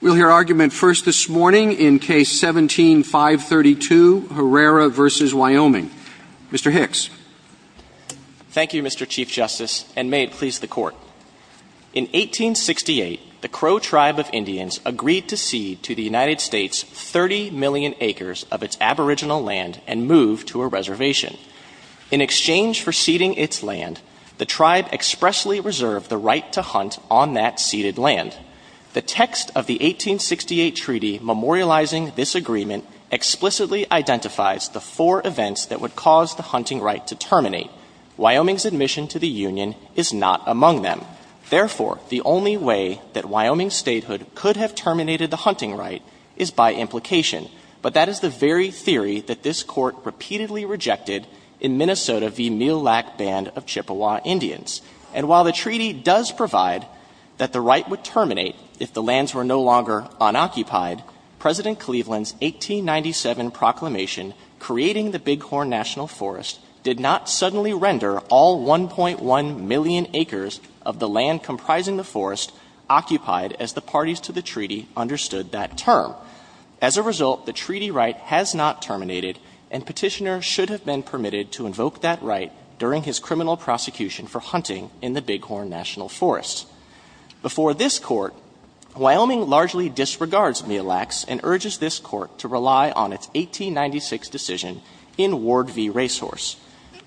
We'll hear argument first this morning in case 17-532, Herrera v. Wyoming. Mr. Hicks. Thank you, Mr. Chief Justice, and may it please the Court. In 1868, the Crow tribe of Indians agreed to cede to the United States 30 million acres of its aboriginal land and move to a reservation. In exchange for ceding its land, the tribe expressly reserved the right to hunt on that ceded land. The text of the 1868 treaty memorializing this agreement explicitly identifies the four events that would cause the hunting right to terminate. Wyoming's admission to the Union is not among them. Therefore, the only way that Wyoming statehood could have terminated the hunting right is by implication, but that is the very theory that this Court repeatedly rejected in Minnesota v. Mule Lac Band of Chippewa Indians. And while the treaty does provide that the right would terminate if the lands were no longer unoccupied, President Cleveland's 1897 proclamation creating the Bighorn National Forest did not suddenly render all 1.1 million acres of the land comprising the forest occupied as the parties to the treaty understood that term. As a result, the treaty right has not terminated, and Petitioner should have been Before this Court, Wyoming largely disregards Mule Lacs and urges this Court to rely on its 1896 decision in Ward v. Racehorse.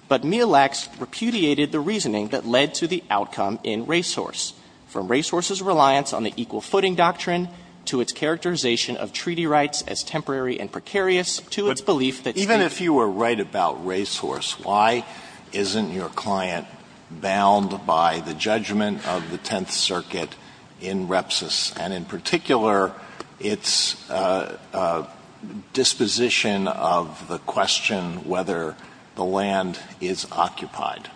But Mule Lacs repudiated the reasoning that led to the outcome in Racehorse, from Racehorse's reliance on the equal footing doctrine to its characterization of treaty rights as temporary and precarious to its belief that statehood Why isn't your client bound by the judgment of the Tenth Circuit in Repsis, and in particular, its disposition of the question whether the land is occupied?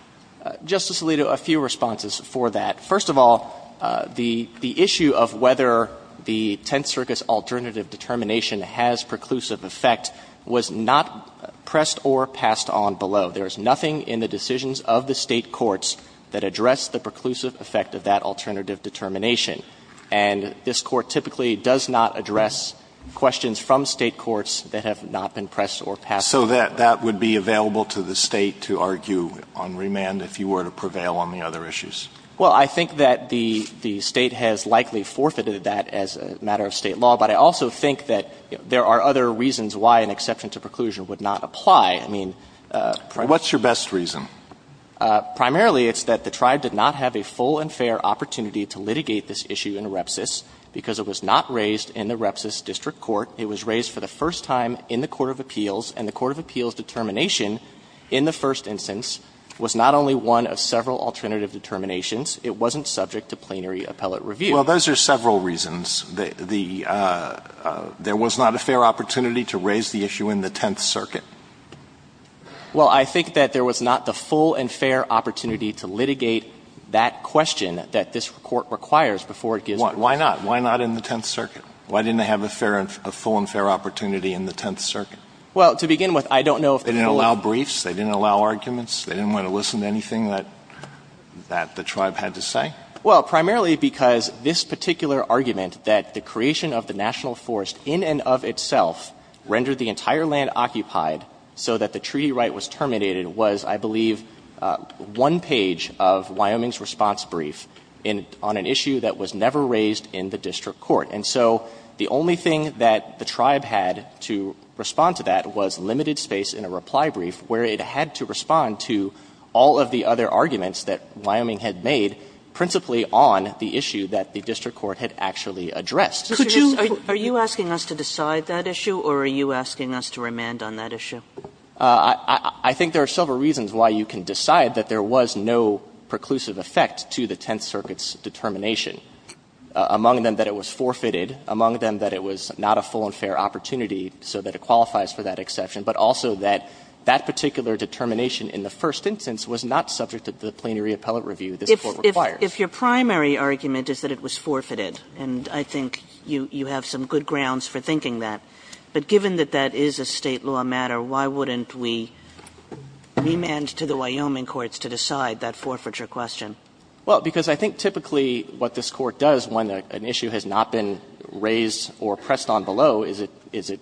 Justice Alito, a few responses for that. First of all, the issue of whether the Tenth Circuit's alternative determination has preclusive effect was not pressed or passed on below. There is nothing in the decisions of the State courts that address the preclusive effect of that alternative determination. And this Court typically does not address questions from State courts that have not been pressed or passed below. So that would be available to the State to argue on remand if you were to prevail on the other issues? Well, I think that the State has likely forfeited that as a matter of State law, but I also think that there are other reasons why an exception to preclusion would not apply. I mean, primarily What's your best reason? Primarily, it's that the tribe did not have a full and fair opportunity to litigate this issue in Repsis because it was not raised in the Repsis district court. It was raised for the first time in the court of appeals, and the court of appeals' determination in the first instance was not only one of several alternative determinations. It wasn't subject to plenary appellate review. Well, those are several reasons. There was not a fair opportunity to raise the issue in the Tenth Circuit. Well, I think that there was not the full and fair opportunity to litigate that question that this Court requires before it gives its decision. Why not? Why not in the Tenth Circuit? Why didn't they have a fair and – a full and fair opportunity in the Tenth Circuit? Well, to begin with, I don't know if the rule of law – They didn't allow briefs? They didn't allow arguments? They didn't want to listen to anything that – that the tribe had to say? Well, primarily because this particular argument that the creation of the national tribe had occupied so that the treaty right was terminated was, I believe, one page of Wyoming's response brief in – on an issue that was never raised in the district court. And so the only thing that the tribe had to respond to that was limited space in a reply brief where it had to respond to all of the other arguments that Wyoming had made, principally on the issue that the district court had actually addressed. Could you – Are you asking us to decide that issue, or are you asking us to remand on that issue? I think there are several reasons why you can decide that there was no preclusive effect to the Tenth Circuit's determination, among them that it was forfeited, among them that it was not a full and fair opportunity so that it qualifies for that exception, but also that that particular determination in the first instance was not subject to the plenary appellate review this Court requires. If your primary argument is that it was forfeited, and I think you have some good grounds for thinking that, but given that that is a State law matter, why wouldn't we remand to the Wyoming courts to decide that forfeiture question? Well, because I think typically what this Court does when an issue has not been raised or pressed on below is it – is it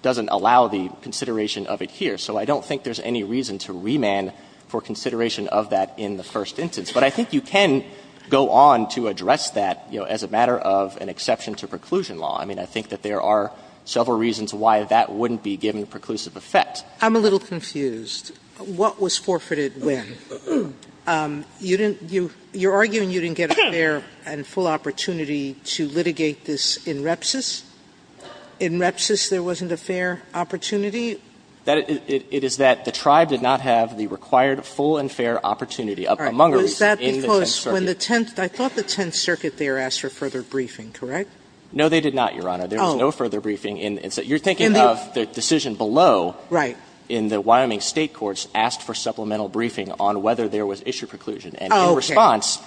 doesn't allow the consideration of it here. So I don't think there's any reason to remand for consideration of that in the first instance. But I think you can go on to address that, you know, as a matter of an exception to preclusion law. I mean, I think that there are several reasons why that wouldn't be given preclusive effect. Sotomayor, I'm a little confused. What was forfeited when? You didn't – you're arguing you didn't get a fair and full opportunity to litigate this in repsis? In repsis there wasn't a fair opportunity? That – it is that the tribe did not have the required full and fair opportunity of amongers. So is that because when the Tenth – I thought the Tenth Circuit there asked for further briefing, correct? No, they did not, Your Honor. There was no further briefing in the – you're thinking of the decision below. Right. In the Wyoming State courts asked for supplemental briefing on whether there was issue preclusion. And in response,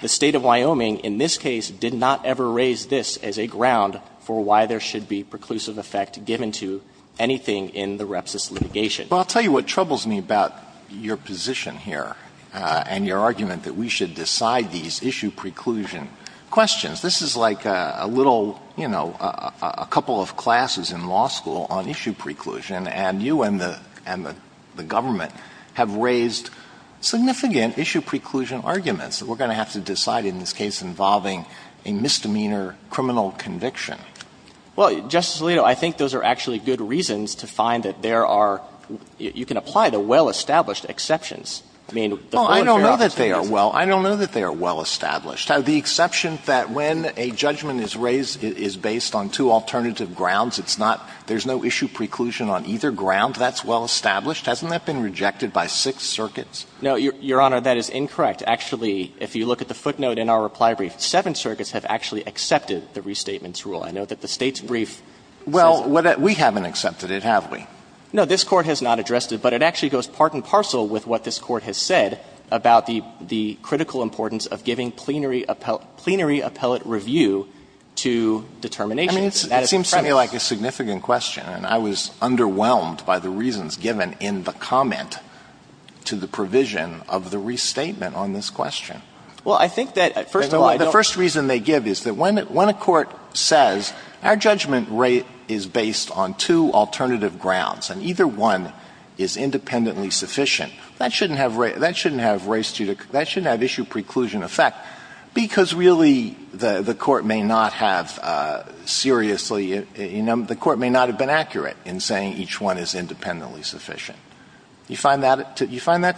the State of Wyoming in this case did not ever raise this as a ground for why there should be preclusive effect given to anything in the repsis litigation. Well, I'll tell you what troubles me about your position here and your argument that we should decide these issue preclusion questions. This is like a little, you know, a couple of classes in law school on issue preclusion. And you and the – and the government have raised significant issue preclusion arguments that we're going to have to decide in this case involving a misdemeanor criminal conviction. Well, Justice Alito, I think those are actually good reasons to find that there are – you can apply the well-established exceptions. I mean, the foreign fair office— Well, I don't know that they are well – I don't know that they are well-established. The exception that when a judgment is raised, it is based on two alternative grounds, it's not – there's no issue preclusion on either ground, that's well-established? Hasn't that been rejected by six circuits? No, Your Honor, that is incorrect. Actually, if you look at the footnote in our reply brief, seven circuits have actually accepted the restatement's rule. I know that the State's brief says— Well, we haven't accepted it, have we? No, this Court has not addressed it, but it actually goes part and parcel with what this Court has said about the critical importance of giving plenary appellate review to determinations. I mean, it seems to me like a significant question, and I was underwhelmed by the reasons given in the comment to the provision of the restatement on this question. Well, I think that, first of all— The first reason they give is that when a court says, our judgment rate is based on two alternative grounds, and either one is independently sufficient, that shouldn't have – that shouldn't have issue preclusion effect, because really the Court may not have seriously – you know, the Court may not have been accurate in saying each one is independently sufficient. Do you find that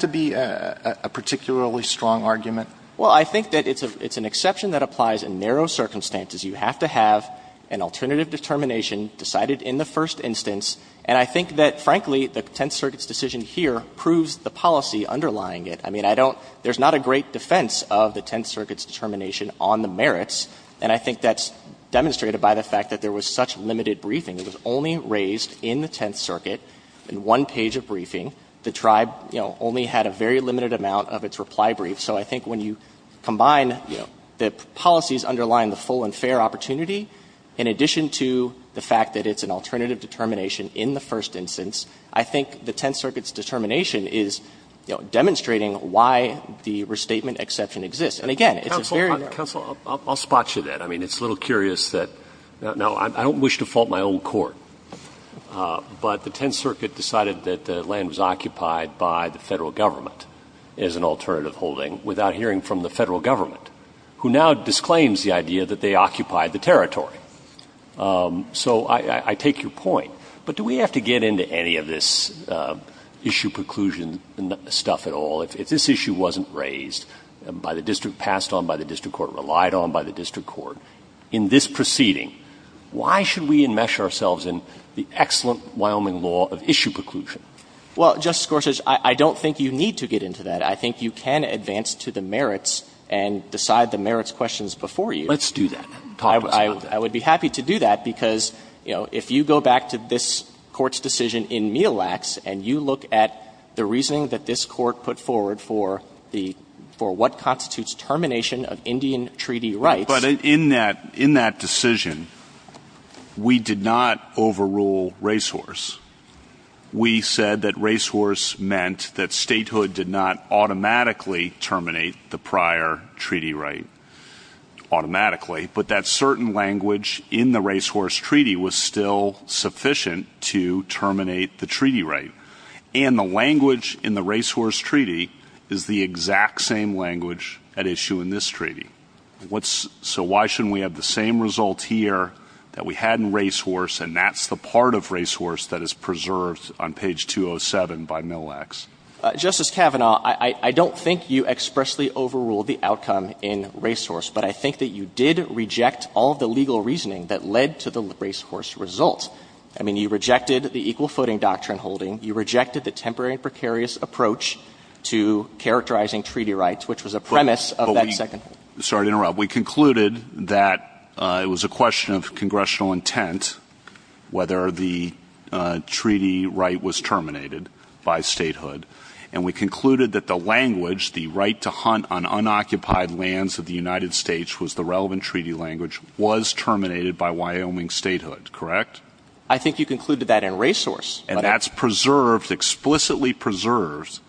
to be a particularly strong argument? Well, I think that it's an exception that applies in narrow circumstances. You have to have an alternative determination decided in the first instance. And I think that, frankly, the Tenth Circuit's decision here proves the policy underlying it. I mean, I don't – there's not a great defense of the Tenth Circuit's determination on the merits, and I think that's demonstrated by the fact that there was such limited briefing. It was only raised in the Tenth Circuit in one page of briefing. The Tribe, you know, only had a very limited amount of its reply brief. So I think when you combine, you know, the policies underlying the full and fair opportunity, in addition to the fact that it's an alternative determination in the first instance, I think the Tenth Circuit's determination is, you know, demonstrating why the restatement exception exists. And again, it's a very narrow – Counsel, counsel, I'll spot you there. I mean, it's a little curious that – now, I don't wish to fault my own court, but the Tenth Circuit decided that the land was occupied by the Federal Government as an alternative holding without hearing from the Federal Government, who now disclaims the idea that they occupied the territory. So I take your point. But do we have to get into any of this issue preclusion stuff at all? If this issue wasn't raised by the district, passed on by the district court, relied on by the district court, in this proceeding, why should we enmesh ourselves in the excellent Wyoming law of issue preclusion? Well, Justice Gorsuch, I don't think you need to get into that. I think you can advance to the merits and decide the merits questions before you. Let's do that. Talk to us about that. I would be happy to do that, because, you know, if you go back to this Court's decision in Mielax and you look at the reasoning that this Court put forward for the – for what constitutes termination of Indian treaty rights – But in that – in that decision, we did not overrule Racehorse. We said that Racehorse meant that statehood did not automatically terminate the prior treaty right – automatically – but that certain language in the Racehorse treaty was still sufficient to terminate the treaty right. And the language in the Racehorse treaty is the exact same language at issue in this treaty. What's – so why shouldn't we have the same result here that we had in Racehorse and that's the part of Racehorse that is preserved on page 207 by Mielax? Justice Kavanaugh, I don't think you expressly overruled the outcome in Racehorse, but I think that you did reject all the legal reasoning that led to the Racehorse result. I mean, you rejected the equal footing doctrine holding. You rejected the temporary and precarious approach to characterizing treaty rights, which was a premise of that second – Sorry to interrupt. We concluded that it was a question of congressional intent whether the treaty right was terminated by statehood. And we concluded that the language, the right to hunt on unoccupied lands of the United States was the relevant treaty language, was terminated by Wyoming statehood, correct? I think you concluded that in Racehorse. And that's preserved – explicitly preserved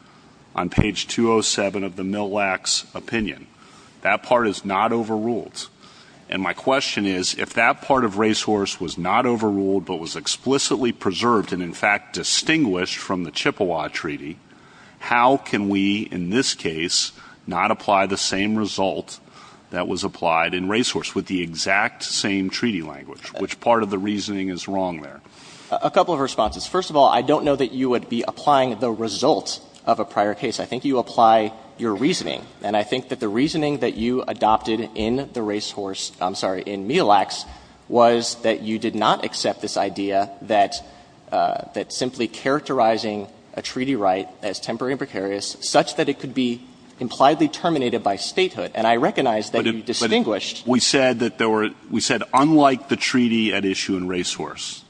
on page 207 of the Mielax opinion. That part is not overruled. And my question is, if that part of Racehorse was not overruled but was explicitly preserved and in fact distinguished from the Chippewa Treaty, how can we in this case not apply the same result that was applied in Racehorse with the exact same treaty language, which part of the reasoning is wrong there? A couple of responses. First of all, I don't know that you would be applying the result of a prior case. I think you apply your reasoning. And I think that the reasoning that you adopted in the Racehorse – I'm sorry, in Mielax was that you did not accept this idea that simply characterizing a treaty right as temporary and precarious such that it could be impliedly terminated by statehood. And I recognize that you distinguished – But we said that there were – we said unlike the treaty at issue in Racehorse,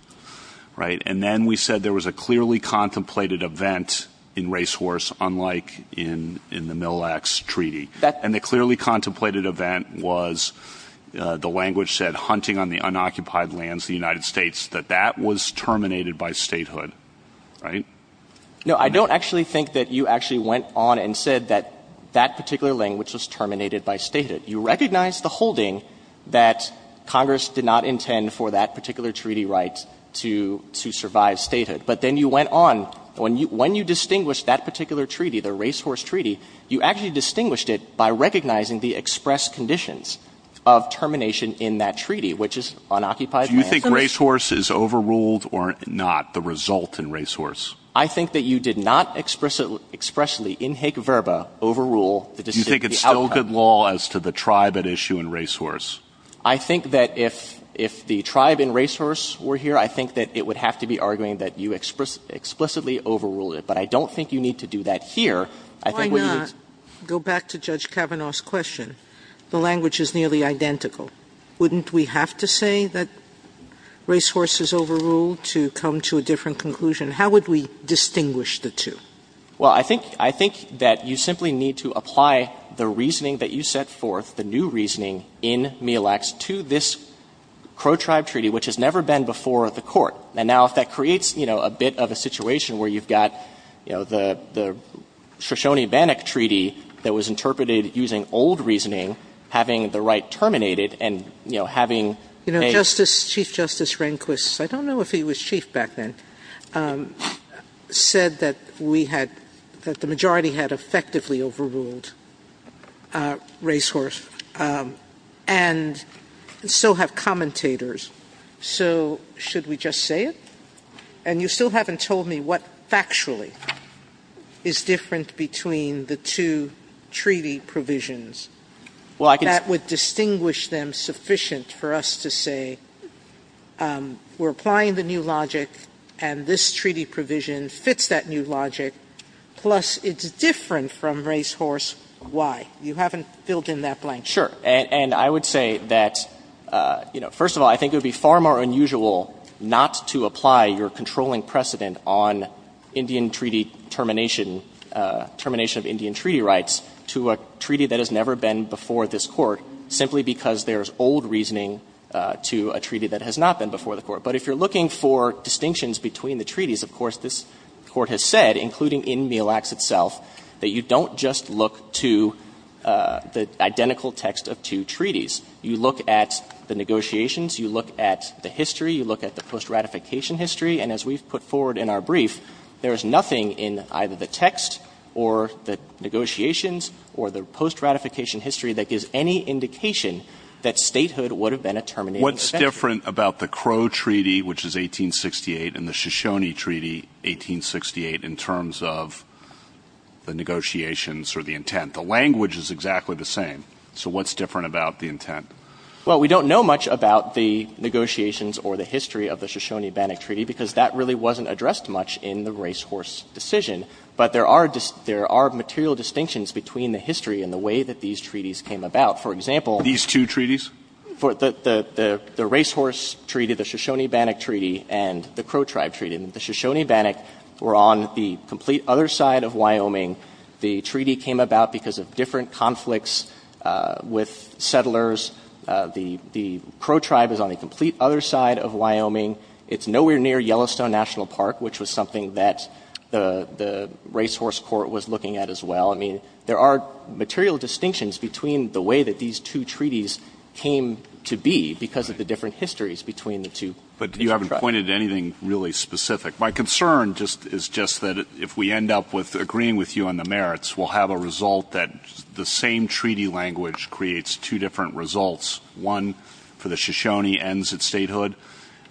right? And then we said there was a clearly contemplated event in Racehorse unlike in the Mielax treaty. And the clearly contemplated event was the language said, hunting on the unoccupied lands of the United States, that that was terminated by statehood, right? No, I don't actually think that you actually went on and said that that particular language was terminated by statehood. You recognized the holding that Congress did not intend for that particular treaty right to survive statehood. But then you went on. When you distinguished that particular treaty, the Racehorse treaty, you actually distinguished it by recognizing the express conditions of termination in that treaty, which is unoccupied lands. Do you think Racehorse is overruled or not, the result in Racehorse? I think that you did not expressly, in hec verba, overrule the decision – Do you think it's still good law as to the tribe at issue in Racehorse? I think that if the tribe in Racehorse were here, I think that it would have to be arguing that you explicitly overruled it. But I don't think you need to do that here. I think what you would – Why not go back to Judge Kavanaugh's question? The language is nearly identical. Wouldn't we have to say that Racehorse is overruled to come to a different conclusion? How would we distinguish the two? Well, I think that you simply need to apply the reasoning that you set forth, the new reasoning in Mille Lacs, to this Crow tribe treaty, which has never been before the Court. And now if that creates, you know, a bit of a situation where you've got, you know, the Shoshone-Bannock treaty that was interpreted using old reasoning, having the right terminated, and, you know, having a – You know, Chief Justice Rehnquist – I don't know if he was chief back then – said that we had – that the majority had effectively overruled Racehorse. And so have commentators. So should we just say it? And you still haven't told me what factually is different between the two treaty provisions. Well, I can – That would distinguish them sufficient for us to say we're applying the new logic and this treaty provision fits that new logic, plus it's different from Racehorse Y. You haven't filled in that blank. Sure. And I would say that, you know, first of all, I think it would be far more unusual not to apply your controlling precedent on Indian treaty termination, termination of Indian treaty rights, to a treaty that has never been before this Court, simply because there's old reasoning to a treaty that has not been before the Court. But if you're looking for distinctions between the treaties, of course, this Court has said, including in Mille Acts itself, that you don't just look to the identical text of two treaties. You look at the negotiations, you look at the history, you look at the post-ratification history, and as we've put forward in our brief, there is nothing in either the text or the negotiations or the post-ratification history that gives any indication that statehood would have been a terminating event. What's different about the Crow Treaty, which is 1868, and the Shoshone Treaty, 1868, in terms of the negotiations or the intent? The language is exactly the same. So what's different about the intent? Well, we don't know much about the negotiations or the history of the Shoshone-Bannock Treaty, because that really wasn't addressed much in the Racehorse decision. But there are material distinctions between the history and the way that these treaties came about. For example — These two treaties? The Racehorse Treaty, the Shoshone-Bannock Treaty, and the Crow Tribe Treaty. The Shoshone-Bannock were on the complete other side of Wyoming. The treaty came about because of different conflicts with settlers. The Crow Tribe is on the complete other side of Wyoming. It's nowhere near Yellowstone National Park, which was something that the Racehorse Court was looking at as well. I mean, there are material distinctions between the way that these two treaties came to be because of the different histories between the two. But you haven't pointed to anything really specific. My concern is just that if we end up agreeing with you on the merits, we'll have a result that the same treaty language creates two different results. One, for the Shoshone, ends at statehood.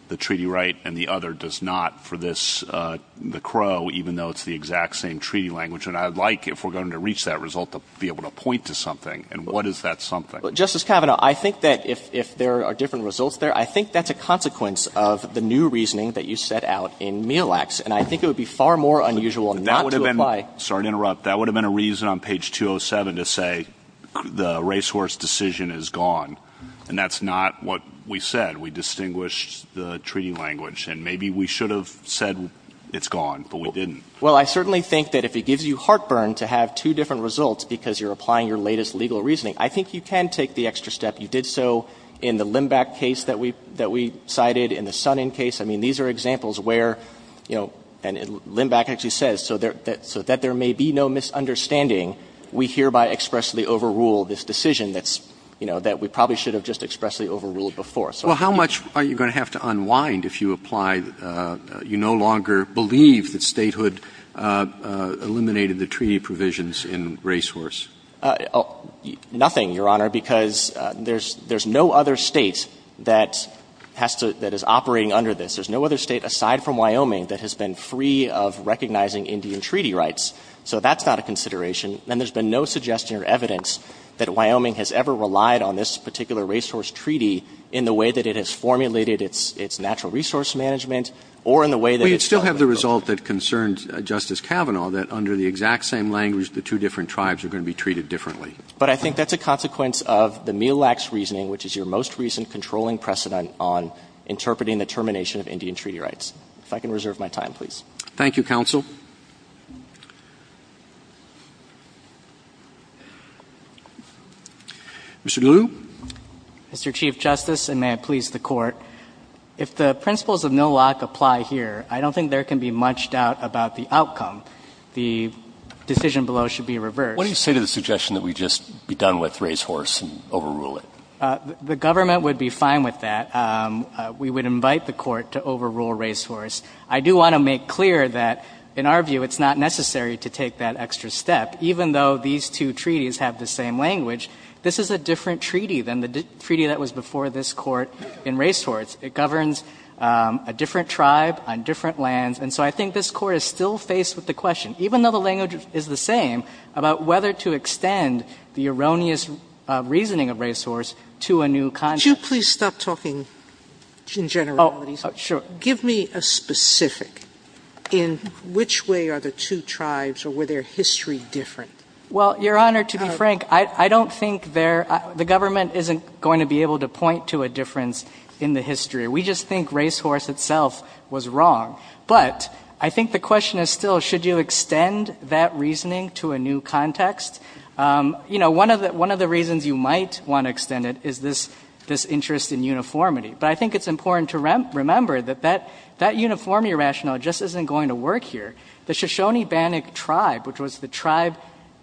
The treaty right and the other does not for this, the Crow, even though it's the exact same treaty language. And I'd like, if we're going to reach that result, to be able to point to something. And what is that something? Justice Kavanaugh, I think that if there are different results there, I think that's a consequence of the new reasoning that you set out in Mielax. And I think it would be far more unusual not to apply. Sorry to interrupt. That would have been a reason on page 207 to say the Racehorse decision is gone. And that's not what we said. We distinguished the treaty language. And maybe we should have said it's gone, but we didn't. Well, I certainly think that if it gives you heartburn to have two different results because you're applying your latest legal reasoning, I think you can take the extra step. You did so in the Limbach case that we cited, in the Sonnen case. I mean, these are examples where, you know, and Limbach actually says, so that there may be no misunderstanding, we hereby expressly overrule this decision that's, you know, that we probably should have just expressly overruled before. So I think you can take the extra step. Well, how much are you going to have to unwind if you apply, you no longer believe that statehood eliminated the treaty provisions in Racehorse? Nothing, Your Honor, because there's no other State that has to — that is operating under this. There's no other State aside from Wyoming that has been free of recognizing Indian treaty rights. So that's not a consideration. And there's been no suggestion or evidence that Wyoming has ever relied on this particular Racehorse treaty in the way that it has formulated its natural resource management or in the way that it's held accountable. And I think that's a consequence of the Milak's reasoning, which is your most recent controlling precedent on interpreting the termination of Indian treaty rights. If I can reserve my time, please. Thank you, counsel. Mr. Liu. Mr. Chief Justice, and may it please the Court, if the principles of Milak apply to this case, I do want to make clear that, in our view, it's not necessary to take that extra step. Even though these two treaties have the same language, this is a different treaty than the treaty that was before this Court in Racehorse. It governs a different tribe on different lands, and so I think this is a different to make. And I think that this Court is still faced with the question, even though the language is the same, about whether to extend the erroneous reasoning of Racehorse to a new context. Sotomayor, please stop talking in generalities. Sure. Give me a specific in which way are the two tribes, or were their history different? Well, Your Honor, to be frank, I don't think they're – the government isn't going to be able to point to a difference in the history. We just think Racehorse itself was wrong. But I think the question is still, should you extend that reasoning to a new context? You know, one of the reasons you might want to extend it is this interest in uniformity. But I think it's important to remember that that uniformity rationale just isn't going to work here. The Shoshone-Bannock tribe, which was the tribe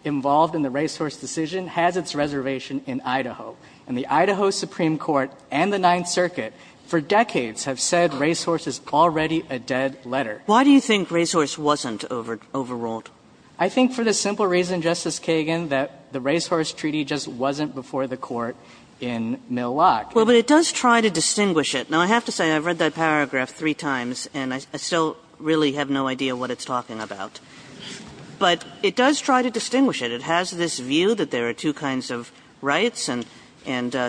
involved in the Racehorse decision, has its reservation in Idaho. And the Idaho Supreme Court and the Ninth Circuit for decades have said Racehorse is already a dead letter. Why do you think Racehorse wasn't overruled? I think for the simple reason, Justice Kagan, that the Racehorse treaty just wasn't before the Court in Mill Lock. Well, but it does try to distinguish it. Now, I have to say, I've read that paragraph three times, and I still really have no idea what it's talking about. But it does try to distinguish it. It has this view that there are two kinds of rights and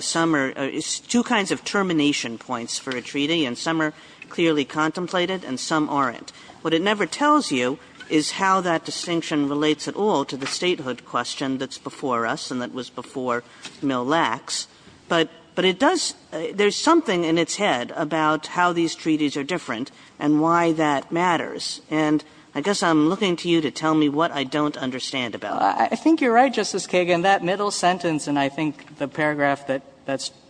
some are – two kinds of termination points for a treaty, and some are clearly contemplated and some aren't. What it never tells you is how that distinction relates at all to the statehood question that's before us and that was before Mill Lacks. But it does – there's something in its head about how these treaties are different and why that matters. And I guess I'm looking to you to tell me what I don't understand about it. I think you're right, Justice Kagan. That middle sentence, and I think the paragraph that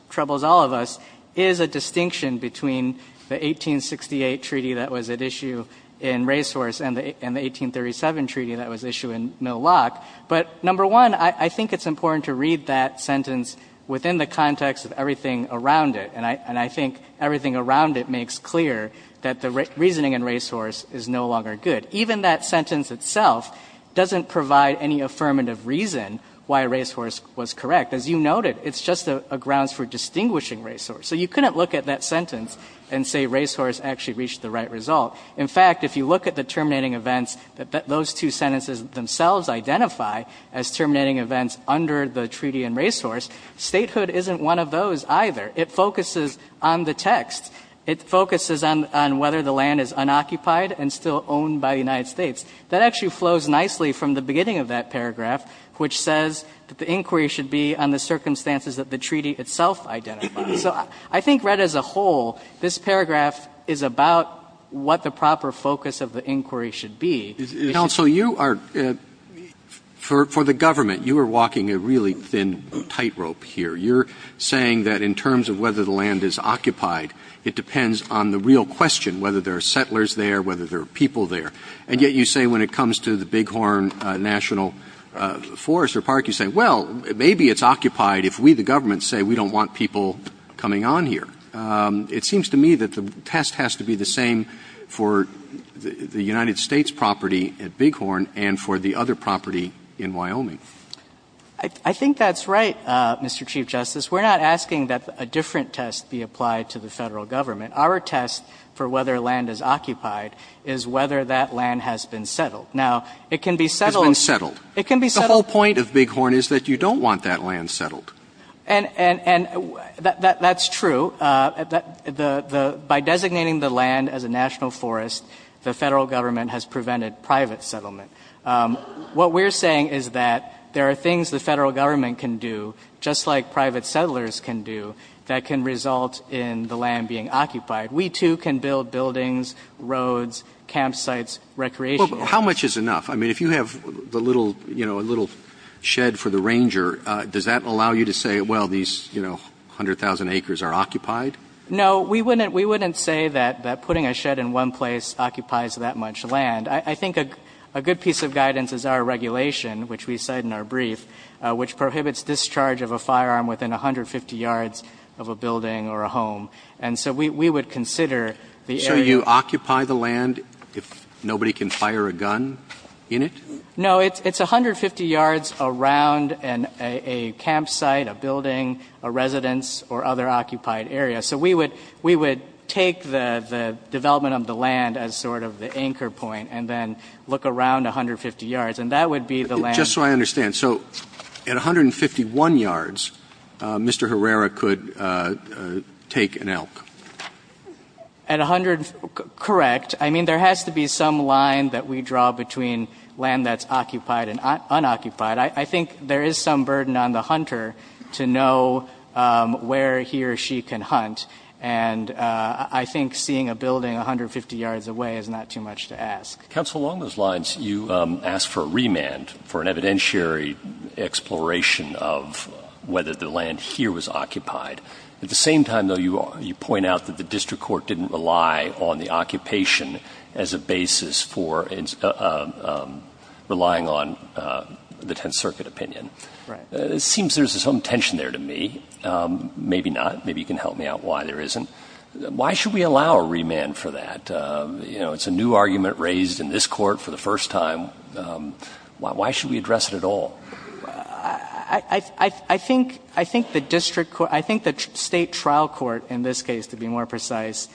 troubles all of us, is a distinction between the 1868 treaty that was at issue in Racehorse and the 1837 treaty that was issued in Mill Lock. But, number one, I think it's important to read that sentence within the context of everything around it, and I think everything around it makes clear that the reasoning in Racehorse is no longer good. Even that sentence itself doesn't provide any affirmative reason why Racehorse was correct. As you noted, it's just a grounds for distinguishing Racehorse. So you couldn't look at that sentence and say Racehorse actually reached the right result. In fact, if you look at the terminating events that those two sentences themselves identify as terminating events under the treaty in Racehorse, statehood isn't one of those either. It focuses on the text. It focuses on whether the land is unoccupied and still owned by the United States. That actually flows nicely from the beginning of that paragraph, which says that the inquiry should be on the circumstances that the treaty itself identifies. So I think read as a whole, this paragraph is about what the proper focus of the inquiry should be. Counsel, you are, for the government, you are walking a really thin tightrope here. You're saying that in terms of whether the land is occupied, it depends on the real question whether there are settlers there, whether there are people there. And yet you say when it comes to the Bighorn National Forest or Park, you say, well, maybe it's occupied if we, the government, say we don't want people coming on here. It seems to me that the test has to be the same for the United States property at Bighorn and for the other property in Wyoming. I think that's right, Mr. Chief Justice. We're not asking that a different test be applied to the Federal Government. Our test for whether land is occupied is whether that land has been settled. Now, it can be settled. Has been settled. It can be settled. The whole point of Bighorn is that you don't want that land settled. And that's true. By designating the land as a national forest, the Federal Government has prevented private settlement. What we're saying is that there are things the Federal Government can do, just like private settlers can do, that can result in the land being occupied. We, too, can build buildings, roads, campsites, recreation areas. How much is enough? I mean, if you have the little, you know, a little shed for the ranger, does that allow you to say, well, these, you know, 100,000 acres are occupied? No, we wouldn't say that putting a shed in one place occupies that much land. I think a good piece of guidance is our regulation, which we cite in our brief, which prohibits discharge of a firearm within 150 yards of a building or a home. And so we would consider the area. So you occupy the land if nobody can fire a gun in it? No, it's 150 yards around a campsite, a building, a residence, or other occupied area. So we would take the development of the land as sort of the anchor point, and then look around 150 yards. And that would be the land. Just so I understand, so at 151 yards, Mr. Herrera could take an elk? At 100, correct. I mean, there has to be some line that we draw between land that's occupied and unoccupied. I think there is some burden on the hunter to know where he or she can hunt. And I think seeing a building 150 yards away is not too much to ask. Counsel, along those lines, you asked for a remand for an evidentiary exploration of whether the land here was occupied. At the same time, though, you point out that the district court didn't rely on the circuit opinion. It seems there's some tension there to me. Maybe not. Maybe you can help me out why there isn't. Why should we allow a remand for that? You know, it's a new argument raised in this Court for the first time. Why should we address it at all? I think the district court – I think the State trial court in this case, to be more precise,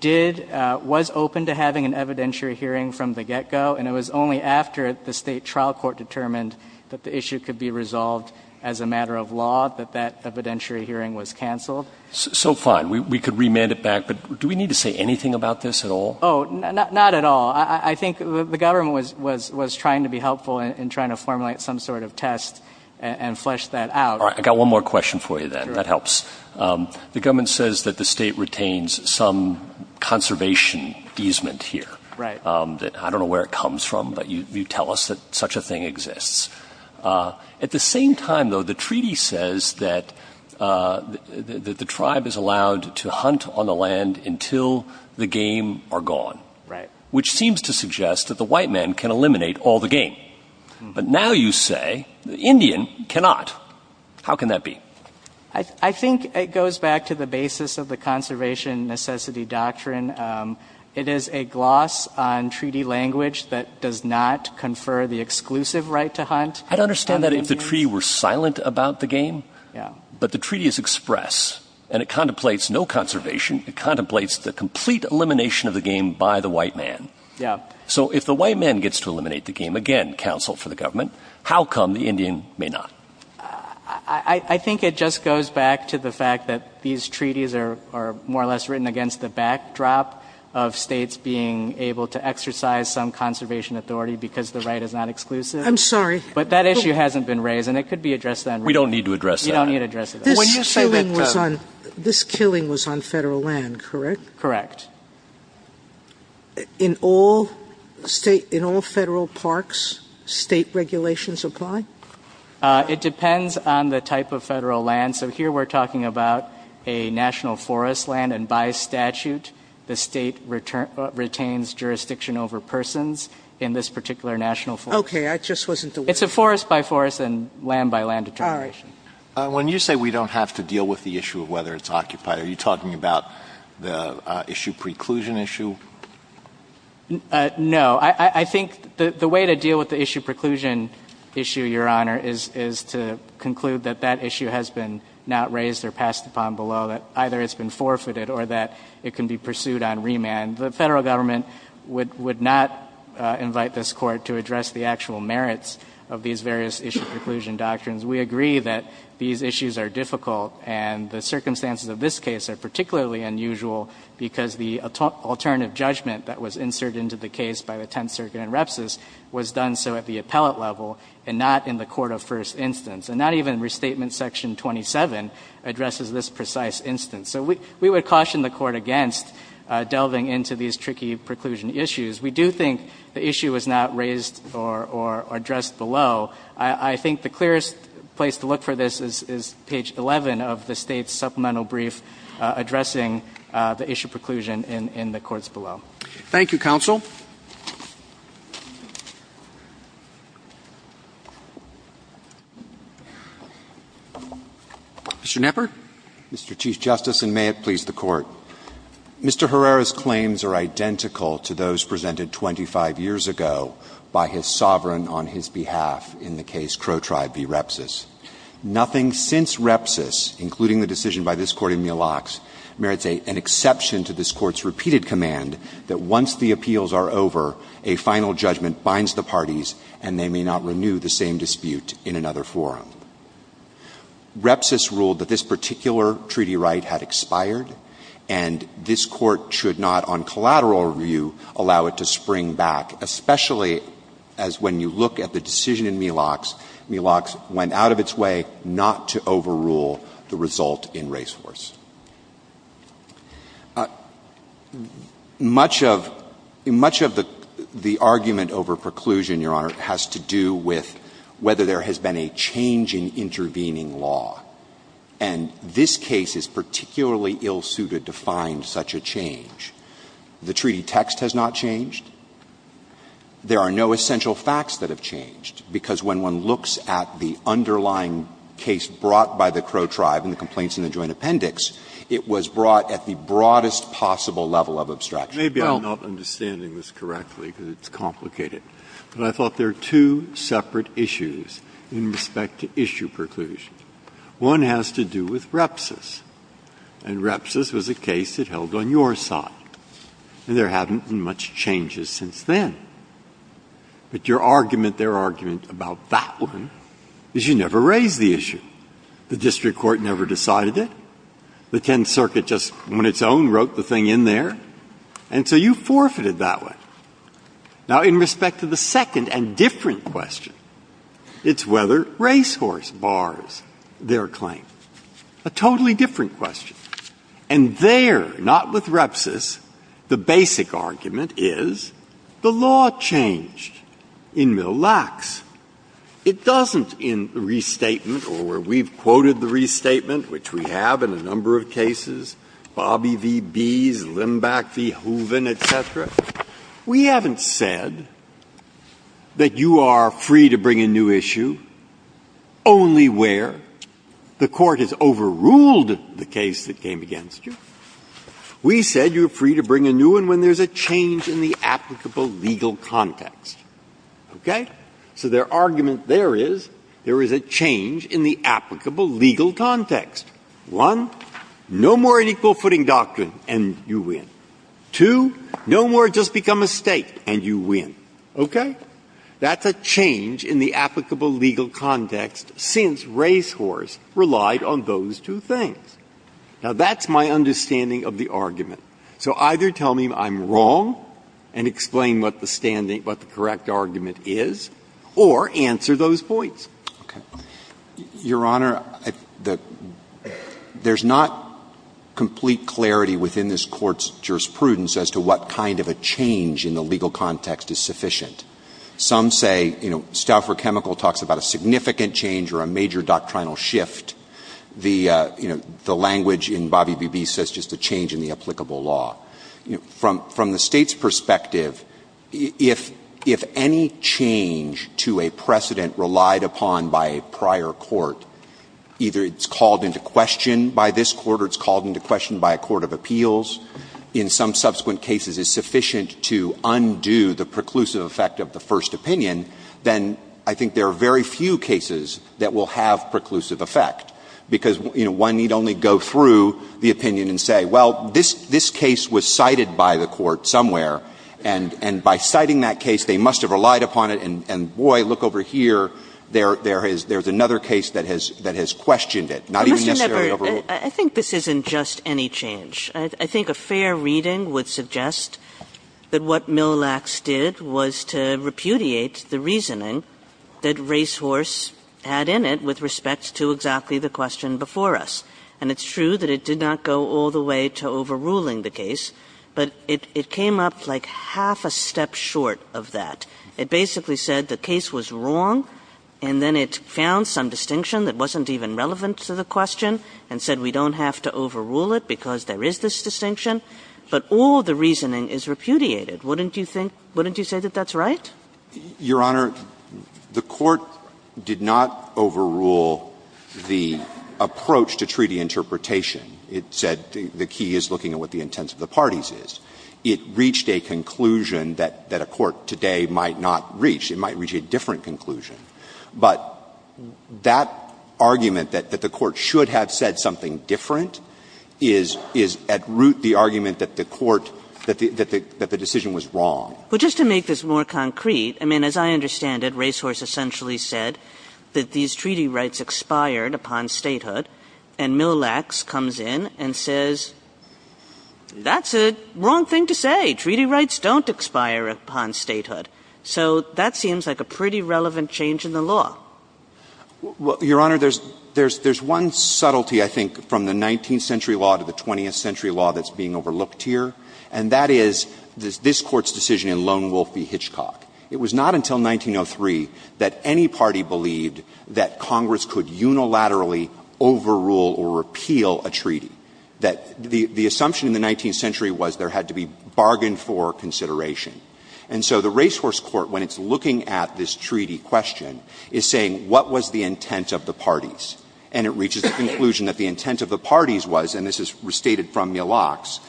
did – was open to having an evidentiary hearing from the get-go, and it was only after the State trial court determined that the issue could be resolved as a matter of law that that evidentiary hearing was canceled. So fine. We could remand it back, but do we need to say anything about this at all? Oh, not at all. I think the government was trying to be helpful in trying to formulate some sort of test and flesh that out. All right. I've got one more question for you, then. That helps. The government says that the State retains some conservation easement here. Right. I don't know where it comes from, but you tell us that such a thing exists. At the same time, though, the treaty says that the tribe is allowed to hunt on the land until the game are gone. Right. Which seems to suggest that the white man can eliminate all the game. But now you say the Indian cannot. How can that be? I think it goes back to the basis of the conservation necessity doctrine. It is a gloss on treaty language that does not confer the exclusive right to hunt. I'd understand that if the treaty were silent about the game. Yeah. But the treaty is express, and it contemplates no conservation. It contemplates the complete elimination of the game by the white man. Yeah. So if the white man gets to eliminate the game again, counsel for the government, how come the Indian may not? I think it just goes back to the fact that these treaties are more or less written against the backdrop of states being able to exercise some conservation authority, because the right is not exclusive. I'm sorry. But that issue hasn't been raised, and it could be addressed then. We don't need to address that. You don't need to address it. This killing was on federal land, correct? Correct. In all federal parks, state regulations apply? It depends on the type of federal land. So here we're talking about a national forest land, and by statute, the state retains jurisdiction over persons in this particular national forest. OK. I just wasn't aware. It's a forest by forest and land by land determination. All right. When you say we don't have to deal with the issue of whether it's occupied, are you talking about the issue preclusion issue? No. I think the way to deal with the issue preclusion issue, Your Honor, is to conclude that that issue has been not raised or passed upon below, that either it's been forfeited or that it can be pursued on remand. The federal government would not invite this Court to address the actual merits of these various issue preclusion doctrines. We agree that these issues are difficult, and the circumstances of this case are particularly unusual, because the alternative judgment that was inserted into the case by the Tenth Circuit in Repsis was done so at the appellate level and not in the court of first instance, and not even Restatement Section 27 addresses this precise instance. So we would caution the Court against delving into these tricky preclusion issues. We do think the issue is not raised or addressed below. I think the clearest place to look for this is page 11 of the State's supplemental brief addressing the issue preclusion in the courts below. Thank you, counsel. Mr. Knepper. Mr. Chief Justice, and may it please the Court. Mr. Herrera's claims are identical to those presented 25 years ago by his sovereign on his behalf in the case Crow Tribe v. Repsis. Nothing since Repsis, including the decision by this Court in Mille Lacs, merits an exception to this Court's repeated command that once the appeals are over, a final judgment binds the parties and they may not renew the same dispute in another forum. Repsis ruled that this particular treaty right had expired, and this Court should not, on collateral review, allow it to spring back, especially as when you look at the decision in Mille Lacs, Mille Lacs went out of its way not to overrule the result in racehorse. Much of the argument over preclusion, Your Honor, has to do with whether there has been a change in intervening law, and this case is particularly ill-suited to find such a change. The treaty text has not changed. There are no essential facts that have changed, because when one looks at the underlying case brought by the Crow Tribe and the complaints in the joint appendix, it was brought at the broadest possible level of abstraction. Breyer, maybe I'm not understanding this correctly, because it's complicated. But I thought there are two separate issues in respect to issue preclusion. One has to do with Repsis, and Repsis was a case that held on your side, and there hadn't been much changes since then. But your argument, their argument about that one, is you never raised the issue. The district court never decided it. The Tenth Circuit just, on its own, wrote the thing in there. And so you forfeited that one. Now, in respect to the second and different question, it's whether racehorse bars their claim, a totally different question. And there, not with Repsis, the basic argument is the law changed in Mill Lax. It doesn't in the restatement, or where we've quoted the restatement, which we have in a number of cases, Bobby v. Bees, Limbach v. Hoeven, et cetera, we haven't said that you are free to bring a new issue only where the Court has overruled the case that came against you. We said you're free to bring a new one when there's a change in the applicable legal context. Okay? So their argument there is there is a change in the applicable legal context. One, no more unequal footing doctrine, and you win. Two, no more just become a State, and you win. Okay? That's a change in the applicable legal context since racehorse relied on those two things. Now, that's my understanding of the argument. So either tell me I'm wrong and explain what the correct argument is, or answer those points. Okay. Your Honor, there's not complete clarity within this Court's jurisprudence as to what kind of a change in the legal context is sufficient. Some say, you know, Stouffer Chemical talks about a significant change or a major doctrinal shift. The, you know, the language in Bobby Beebe says just a change in the applicable law. From the State's perspective, if any change to a precedent relied upon by a prior court, either it's called into question by this Court or it's called into question by a court of appeals, in some subsequent cases is sufficient to undo the preclusive effect of the first opinion, then I think there are very few cases that will have that effect, because, you know, one need only go through the opinion and say, well, this case was cited by the court somewhere, and by citing that case, they must have relied upon it, and boy, look over here, there's another case that has questioned it, not even necessarily overruled. Kagan. Kagan. I think this isn't just any change. I think a fair reading would suggest that what Millax did was to repudiate the reasoning that Racehorse had in it with respect to exactly the question before us. And it's true that it did not go all the way to overruling the case, but it came up like half a step short of that. It basically said the case was wrong, and then it found some distinction that wasn't even relevant to the question and said we don't have to overrule it because there is this distinction, but all the reasoning is repudiated. Wouldn't you think – wouldn't you say that that's right? Your Honor, the Court did not overrule the approach to treaty interpretation. It said the key is looking at what the intent of the parties is. It reached a conclusion that a court today might not reach. It might reach a different conclusion. But that argument that the Court should have said something different is at root the argument that the Court – that the decision was wrong. But just to make this more concrete, I mean, as I understand it, Racehorse essentially said that these treaty rights expired upon statehood, and Millax comes in and says that's a wrong thing to say. Treaty rights don't expire upon statehood. So that seems like a pretty relevant change in the law. Your Honor, there's – there's one subtlety, I think, from the 19th century law to the 20th century law that's being overlooked here, and that is this Court's decision in Lone Wolf v. Hitchcock. It was not until 1903 that any party believed that Congress could unilaterally overrule or repeal a treaty, that the assumption in the 19th century was there had to be bargain for consideration. And so the Racehorse Court, when it's looking at this treaty question, is saying what was the intent of the parties? And it reaches the conclusion that the intent of the parties was, and this is stated from Millax,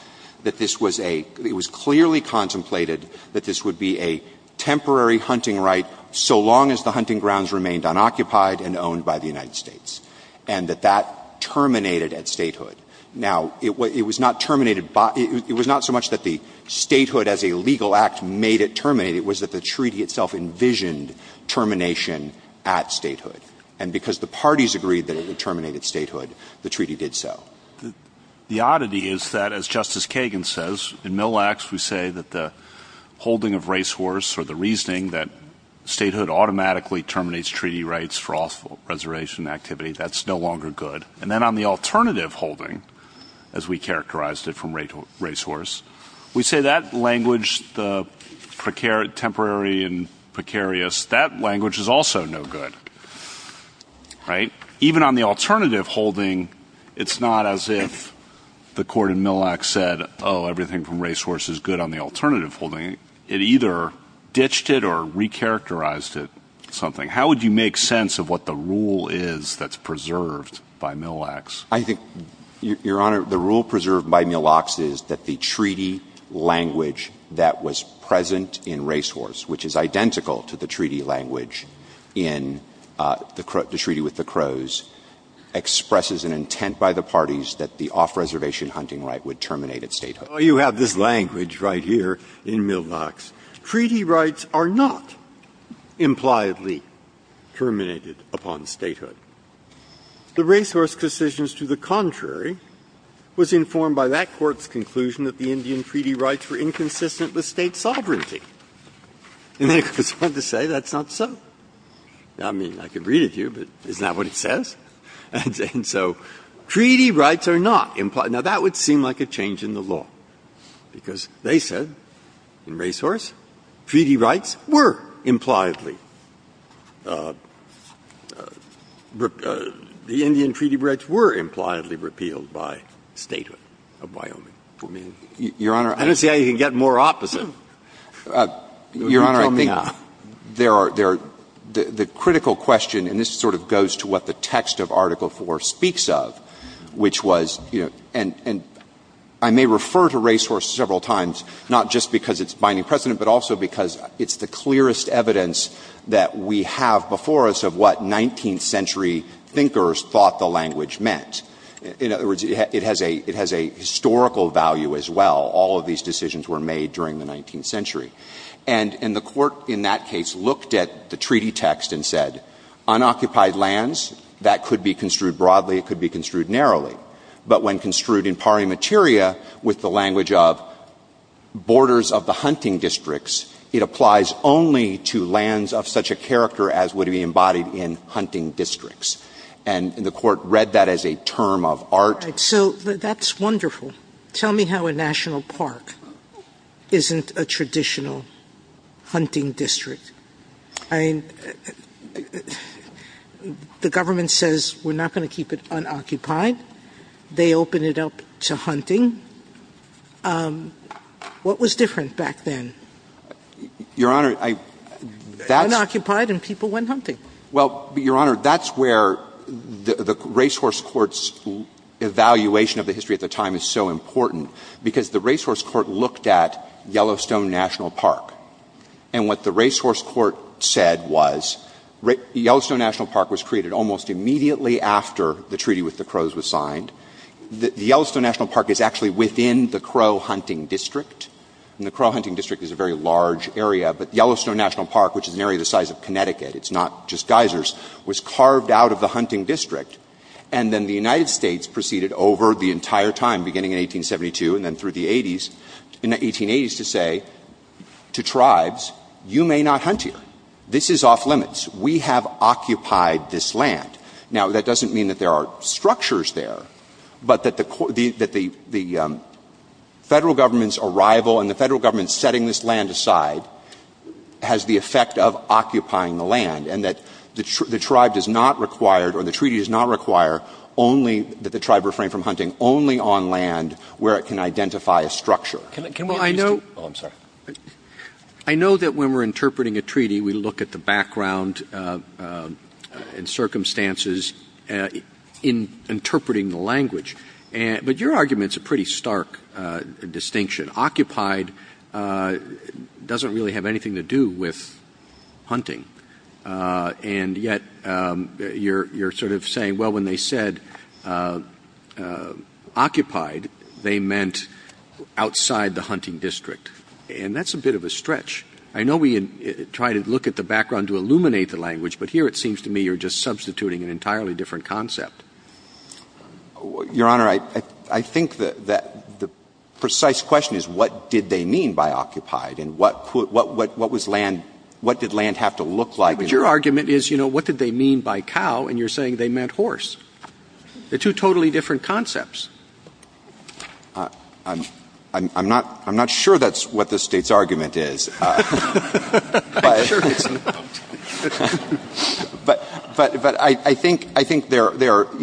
that this was a – it was clearly contemplated that this would be a temporary hunting right so long as the hunting grounds remained unoccupied and owned by the United States, and that that terminated at statehood. Now, it was not terminated by – it was not so much that the statehood as a legal act made it terminate. It was that the treaty itself envisioned termination at statehood. And because the parties agreed that it terminated statehood, the treaty did so. The oddity is that, as Justice Kagan says, in Millax we say that the holding of racehorse or the reasoning that statehood automatically terminates treaty rights for off-reservation activity, that's no longer good. And then on the alternative holding, as we characterized it from racehorse, we say that language, the temporary and precarious, that language is also no good, right? Even on the alternative holding, it's not as if the court in Millax said, oh, everything from racehorse is good on the alternative holding. It either ditched it or recharacterized it, something. How would you make sense of what the rule is that's preserved by Millax? I think, Your Honor, the rule preserved by Millax is that the treaty language that was present in racehorse, which is identical to the treaty language in the – the treaty with the Crows, expresses an intent by the parties that the off-reservation hunting right would terminate its statehood. Breyer, you have this language right here in Millax, treaty rights are not impliedly terminated upon statehood. The racehorse decisions to the contrary was informed by that Court's conclusion that the Indian treaty rights were inconsistent with State sovereignty. And then it goes on to say that's not so. I mean, I could read it to you, but isn't that what it says? And so treaty rights are not implied. Now, that would seem like a change in the law, because they said in racehorse treaty rights were impliedly – the Indian treaty rights were impliedly repealed by statehood of Wyoming. I mean, I don't see how you can get more opposite. You tell me now. Your Honor, I think there are – the critical question, and this sort of goes to what the text of Article IV speaks of, which was, you know, and I may refer to racehorse several times, not just because it's binding precedent, but also because it's the clearest evidence that we have before us of what 19th century thinkers thought the language meant. In other words, it has a – it has a historical value as well. All of these decisions were made during the 19th century. And the Court in that case looked at the treaty text and said, unoccupied lands, that could be construed broadly, it could be construed narrowly. But when construed in pari materia, with the language of borders of the hunting districts, it applies only to lands of such a character as would be embodied in hunting districts. And the Court read that as a term of art. Sotomayor. So that's wonderful. Tell me how a national park isn't a traditional hunting district. I mean, the government says we're not going to keep it unoccupied. They open it up to hunting. What was different back then? Your Honor, I – that's – Unoccupied and people went hunting. Well, Your Honor, that's where the racehorse court's evaluation of the history at the time is so important, because the racehorse court looked at Yellowstone National Park. And what the racehorse court said was Yellowstone National Park was created almost immediately after the treaty with the Crows was signed. The Yellowstone National Park is actually within the Crow hunting district, and the Crow hunting district is a very large area. But Yellowstone National Park, which is an area the size of Connecticut, it's not just geysers, was carved out of the hunting district. And then the United States proceeded over the entire time, beginning in 1872 and then through the 80s, in the 1880s, to say to tribes, you may not hunt here. This is off-limits. We have occupied this land. Now, that doesn't mean that there are structures there, but that the – that the Federal Government's arrival and the Federal Government setting this land aside has the effect of occupying the land, and that the tribe does not require or the treaty does not require only that the tribe refrain from hunting only on land where it can identify a structure. Can we get Mr. – Well, I know – oh, I'm sorry. I know that when we're interpreting a treaty, we look at the background and circumstances in interpreting the language. But your argument's a pretty stark distinction. Occupied doesn't really have anything to do with hunting, and yet your sort of saying, well, when they said occupied, they meant outside the hunting district. And that's a bit of a stretch. I know we try to look at the background to illuminate the language, but here it seems to me you're just substituting an entirely different concept. Your Honor, I think that the precise question is what did they mean by occupied and what was land – what did land have to look like? But your argument is, you know, what did they mean by cow, and you're saying they meant horse. They're two totally different concepts. I'm not sure that's what the State's argument is. But I think there are –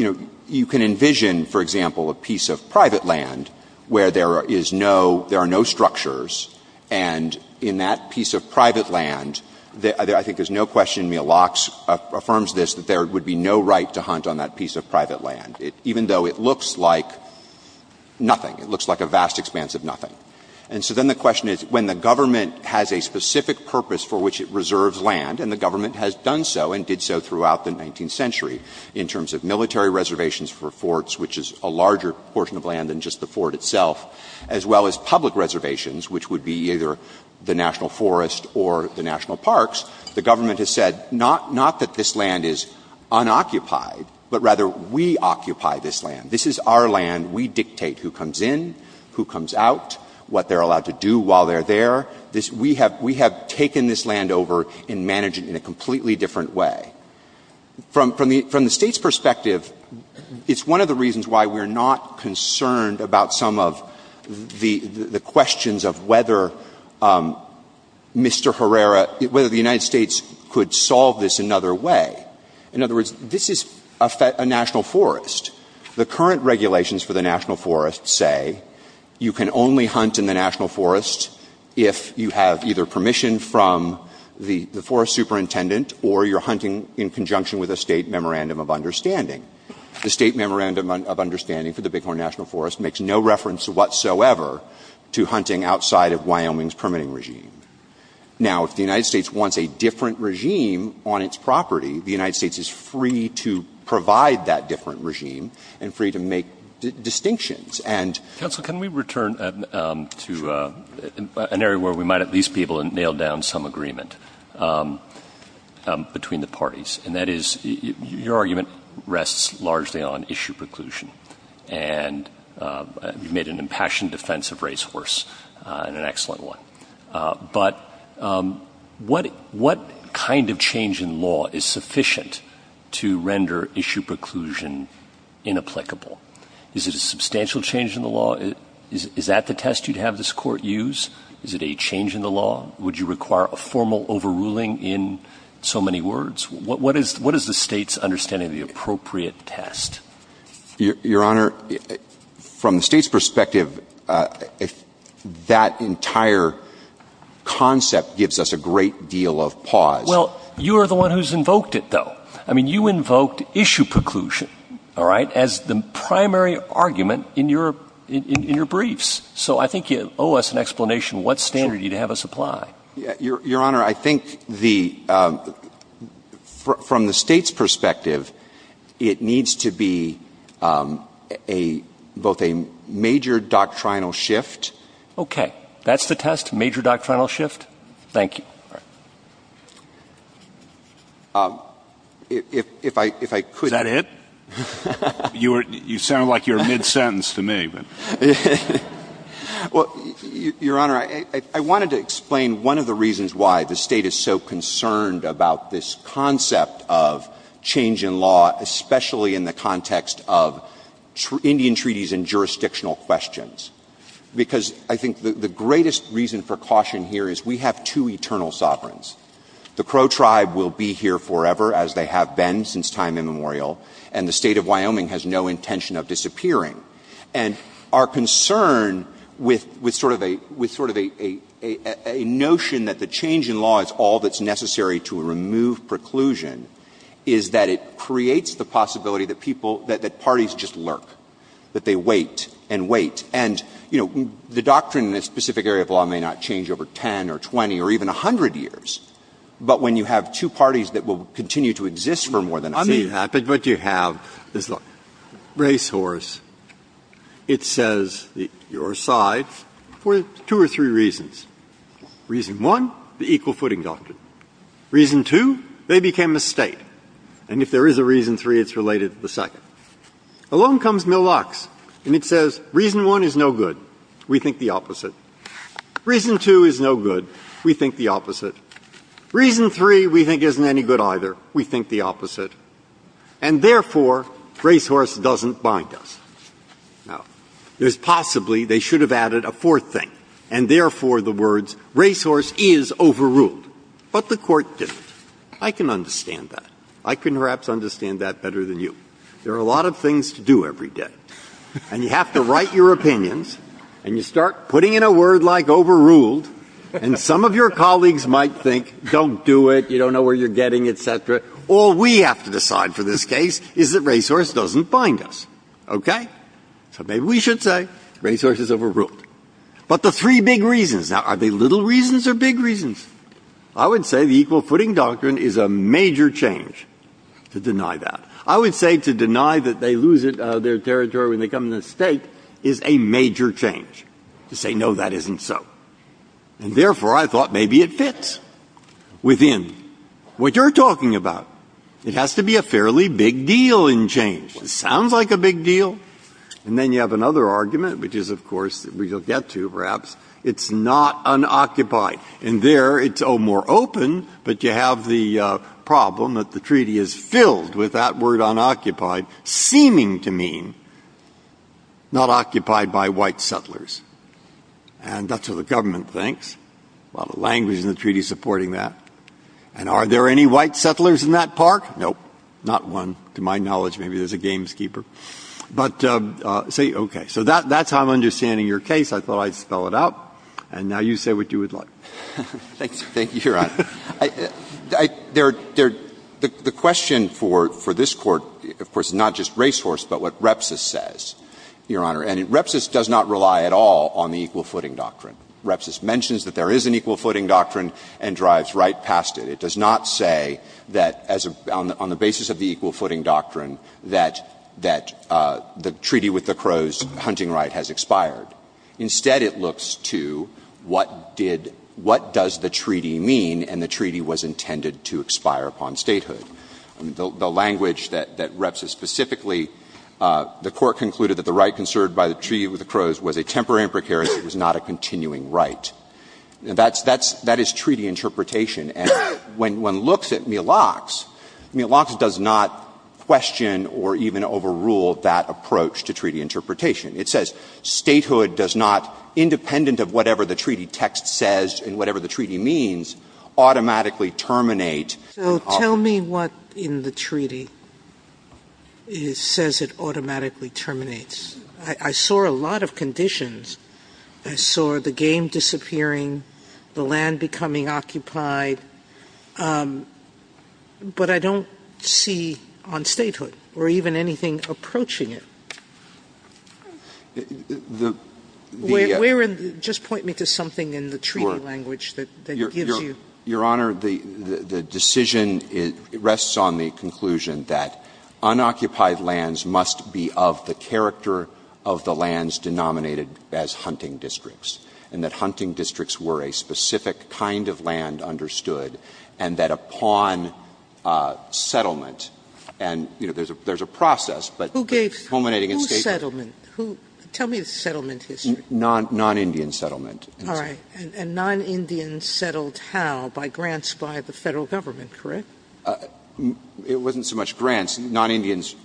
you can envision, for example, a piece of private land where there is no – there are no structures, and in that piece of private land, there – I think there's no question Mealox affirms this, that there would be no right to hunt on that piece of private land, even though it looks like nothing. It looks like a vast expanse of nothing. And so then the question is, when the government has a specific purpose for which it reserves land, and the government has done so and did so throughout the 19th century in terms of military reservations for forts, which is a larger portion of land than just the fort itself, as well as public reservations, which would be either the national forest or the national parks, the government has said not that this land is unoccupied, but rather we occupy this land. This is our land. We dictate who comes in, who comes out, what they're allowed to do while they're there. We have taken this land over and managed it in a completely different way. From the State's perspective, it's one of the reasons why we're not concerned about some of the questions of whether Mr. Herrera — whether the United States could solve this another way. In other words, this is a national forest. The current regulations for the national forest say you can only hunt in the national forest if you have either permission from the forest superintendent or you're hunting in conjunction with a State memorandum of understanding. The State memorandum of understanding for the Bighorn National Forest makes no reference whatsoever to hunting outside of Wyoming's permitting regime. Now, if the United States wants a different regime on its property, the United States is free to provide that different regime and free to make distinctions. And — Roberts. Counsel, can we return to an area where we might at least be able to nail down some agreement between the parties? And that is, your argument rests largely on issue preclusion. And you've made an impassioned defense of race worse, and an excellent one. But what kind of change in law is sufficient to render issue preclusion inapplicable? Is it a substantial change in the law? Is that the test you'd have this Court use? Is it a change in the law? Would you require a formal overruling in so many words? What is the State's understanding of the appropriate test? Your Honor, from the State's perspective, that entire concept gives us a great deal of pause. Well, you're the one who's invoked it, though. I mean, you invoked issue preclusion, all right, as the primary argument in your briefs. So I think you owe us an explanation what standard you'd have us apply. Your Honor, I think the — from the State's perspective, it needs to be a — both a major doctrinal shift. Okay. That's the test? Major doctrinal shift? Thank you. All right. If I could — Is that it? You sound like you're mid-sentence to me. Well, Your Honor, I wanted to explain one of the reasons why the State is so concerned about this concept of change in law, especially in the context of Indian treaties and jurisdictional questions, because I think the greatest reason for caution here is we have two eternal sovereigns. The Crow tribe will be here forever, as they have been since time immemorial, and the State of Wyoming has no intention of disappearing. And our concern with sort of a — with sort of a notion that the change in law is all that's necessary to remove preclusion is that it creates the possibility that people — that parties just lurk, that they wait and wait. And, you know, the doctrine in a specific area of law may not change over 10 or 20 or even 100 years, but when you have two parties that will continue to exist for more than 10 or 20 years, you're going to see that. But you have this racehorse. It says, your side, for two or three reasons. Reason one, the equal footing doctrine. Reason two, they became a State. And if there is a reason three, it's related to the second. Along comes Millox, and it says reason one is no good. We think the opposite. Reason two is no good. We think the opposite. Reason three we think isn't any good either. We think the opposite. And therefore, racehorse doesn't bind us. Now, there's possibly — they should have added a fourth thing, and therefore the words racehorse is overruled. But the Court didn't. I can understand that. I can perhaps understand that better than you. There are a lot of things to do every day. And you have to write your opinions, and you start putting in a word like overruled, and some of your colleagues might think, don't do it, you don't know where you're getting, et cetera. All we have to decide for this case is that racehorse doesn't bind us. Okay? So maybe we should say racehorse is overruled. But the three big reasons — now, are they little reasons or big reasons? I would say the equal footing doctrine is a major change to deny that. I would say to deny that they lose their territory when they come to the State is a major change to say, no, that isn't so. And therefore, I thought maybe it fits within what you're talking about. It has to be a fairly big deal in change. It sounds like a big deal. And then you have another argument, which is, of course, we'll get to, perhaps. It's not unoccupied. And there it's, oh, more open, but you have the problem that the treaty is filled with that word unoccupied, seeming to mean not occupied by white settlers. And that's what the government thinks. Well, the language in the treaty is supporting that. And are there any white settlers in that park? No. Not one. To my knowledge, maybe there's a gameskeeper. But, see, okay. So that's how I'm understanding your case. I thought I'd spell it out. And now you say what you would like. Thank you, Your Honor. The question for this Court, of course, is not just racehorse, but what repsis says, Your Honor. And repsis does not rely at all on the equal footing doctrine. Repsis mentions that there is an equal footing doctrine and drives right past it. It does not say that, on the basis of the equal footing doctrine, that the treaty with the Crow's hunting right has expired. Instead, it looks to what did — what does the treaty mean, and the treaty was intended to expire upon statehood. The language that repsis specifically, the Court concluded that the right conserved by the treaty with the Crow's was a temporary imprecarious. It was not a continuing right. That's — that is treaty interpretation. And when one looks at Milox, Milox does not question or even overrule that approach to treaty interpretation. It says statehood does not, independent of whatever the treaty text says and whatever the treaty means, automatically terminate. Sotomayor So tell me what in the treaty says it automatically terminates. I saw a lot of conditions. I saw the game disappearing, the land becoming occupied, but I don't see on statehood or even anything approaching it. Where in the — just point me to something in the treaty language that gives you — Verrilli, it rests on the conclusion that unoccupied lands must be of the character of the lands denominated as hunting districts, and that hunting districts were a specific kind of land understood, and that upon settlement — and, you know, there's a process, but culminating in statehood — Sotomayor Who gave — whose settlement? Tell me the settlement history. Verrilli, non-Indian settlement. Sotomayor All right. And non-Indians settled how? By grants by the Federal Government, correct? Verrilli, It wasn't so much grants. Non-Indians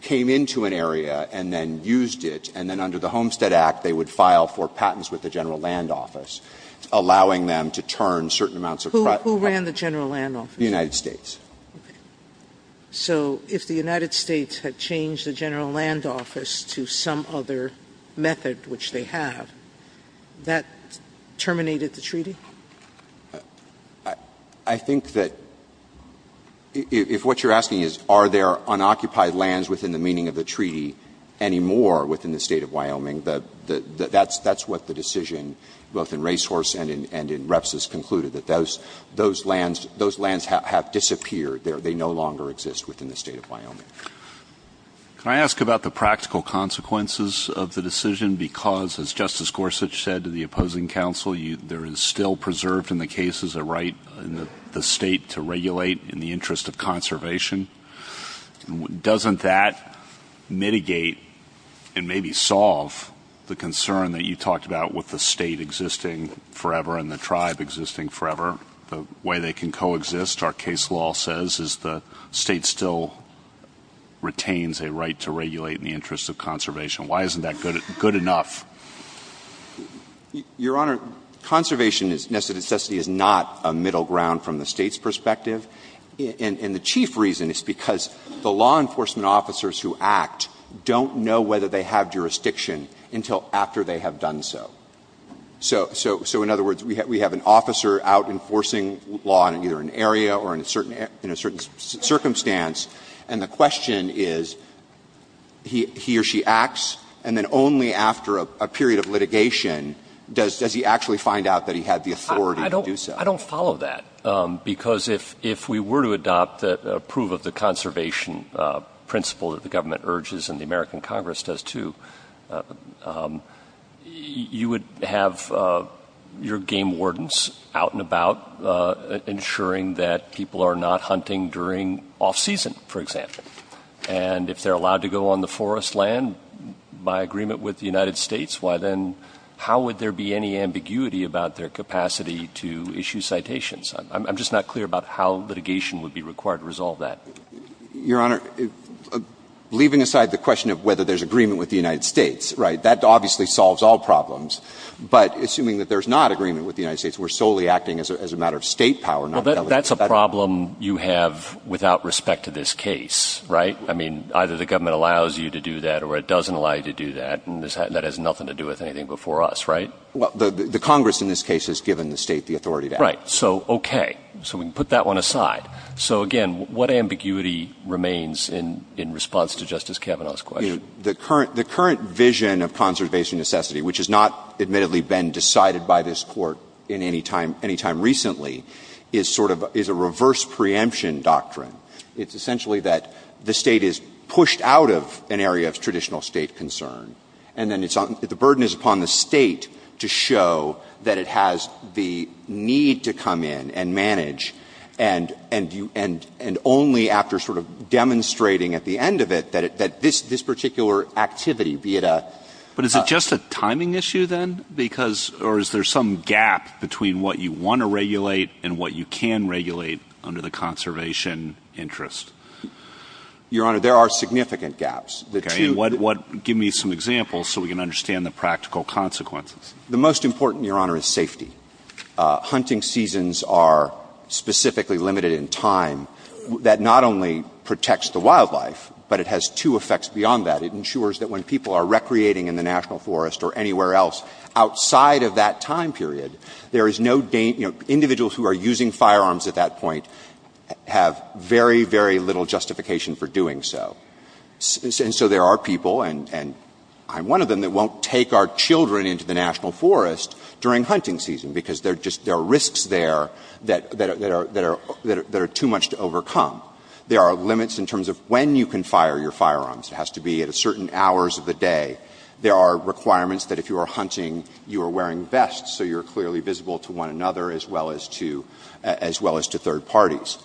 came into an area and then used it, and then under the Homestead Act, they would file for patents with the General Land Office, allowing them to turn certain amounts of — Sotomayor Who ran the General Land Office? Verrilli, The United States. Sotomayor Okay. So if the United States had changed the General Land Office to some other method which they have, that terminated the treaty? Verrilli, I think that — if what you're asking is are there unoccupied lands within the meaning of the treaty anymore within the State of Wyoming, that's what the decision both in Racehorse and in Reps has concluded, that those lands have disappeared. Can I ask about the practical consequences of the decision? Because, as Justice Gorsuch said to the opposing counsel, there is still preserved in the cases a right in the State to regulate in the interest of conservation. Doesn't that mitigate and maybe solve the concern that you talked about with the State existing forever and the tribe existing forever, the way they can coexist? The State still retains a right to regulate in the interest of conservation. Why isn't that good enough? Verrilli, Your Honor, conservation is not a middle ground from the State's perspective. And the chief reason is because the law enforcement officers who act don't know whether they have jurisdiction until after they have done so. So in other words, we have an officer out enforcing law in either an area or in a certain circumstance, and the question is, he or she acts, and then only after a period of litigation does he actually find out that he had the authority to do so. I don't follow that. Because if we were to adopt the proof of the conservation principle that the government and Congress does, too, you would have your game wardens out and about ensuring that people are not hunting during off-season, for example. And if they're allowed to go on the forest land by agreement with the United States, why then how would there be any ambiguity about their capacity to issue citations? I'm just not clear about how litigation would be required to resolve that. Your Honor, leaving aside the question of whether there's agreement with the United States, right, that obviously solves all problems. But assuming that there's not agreement with the United States, we're solely acting as a matter of State power, not delegation. Well, that's a problem you have without respect to this case, right? I mean, either the government allows you to do that or it doesn't allow you to do that, and that has nothing to do with anything before us, right? Well, the Congress in this case has given the State the authority to act. Right. So, okay. So we can put that one aside. So, again, what ambiguity remains in response to Justice Kavanaugh's question? You know, the current vision of conservation necessity, which has not admittedly been decided by this Court in any time recently, is sort of a reverse preemption doctrine. It's essentially that the State is pushed out of an area of traditional State concern, and then the burden is upon the State to show that it has the need to come in and only after sort of demonstrating at the end of it that this particular activity, be it a – But is it just a timing issue, then? Because – or is there some gap between what you want to regulate and what you can regulate under the conservation interest? Your Honor, there are significant gaps. Okay. And what – give me some examples so we can understand the practical consequences. The most important, Your Honor, is safety. Hunting seasons are specifically limited in time. That not only protects the wildlife, but it has two effects beyond that. It ensures that when people are recreating in the national forest or anywhere else outside of that time period, there is no – you know, individuals who are using firearms at that point have very, very little justification for doing so. And so there are people, and I'm one of them, that won't take our children into the national forest during hunting season because there are risks there that are too much to overcome. There are limits in terms of when you can fire your firearms. It has to be at certain hours of the day. There are requirements that if you are hunting, you are wearing vests so you're clearly visible to one another as well as to – as well as to third parties.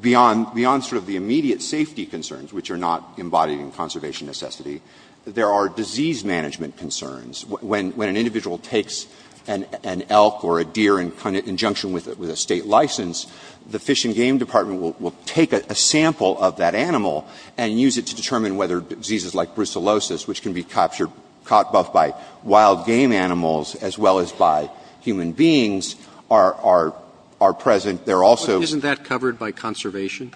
Beyond sort of the immediate safety concerns, which are not embodied in conservation necessity, there are disease management concerns. When an individual takes an elk or a deer in conjunction with a State license, the Fish and Game Department will take a sample of that animal and use it to determine whether diseases like brucellosis, which can be caught both by wild game animals as well as by human beings, are present. There are also – Isn't that covered by conservation?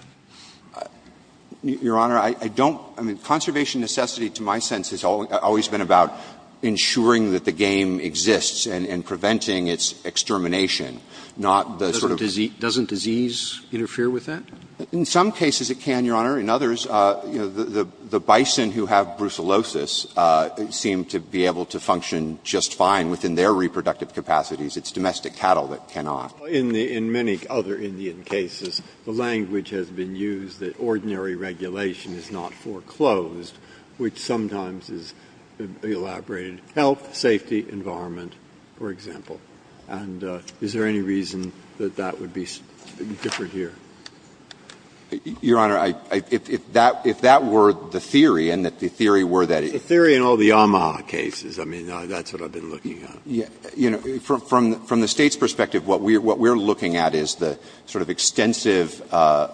Your Honor, I don't – I mean, conservation necessity to my sense has always been about ensuring that the game exists and preventing its extermination, not the sort of – Doesn't disease interfere with that? In some cases it can, Your Honor. In others, you know, the bison who have brucellosis seem to be able to function just fine within their reproductive capacities. It's domestic cattle that cannot. In many other Indian cases, the language has been used that ordinary regulation is not foreclosed, which sometimes is elaborated. Health, safety, environment, for example. And is there any reason that that would be different here? Your Honor, if that were the theory and that the theory were that it – The theory in all the Yamaha cases, I mean, that's what I've been looking at. You know, from the State's perspective, what we're looking at is the sort of extensive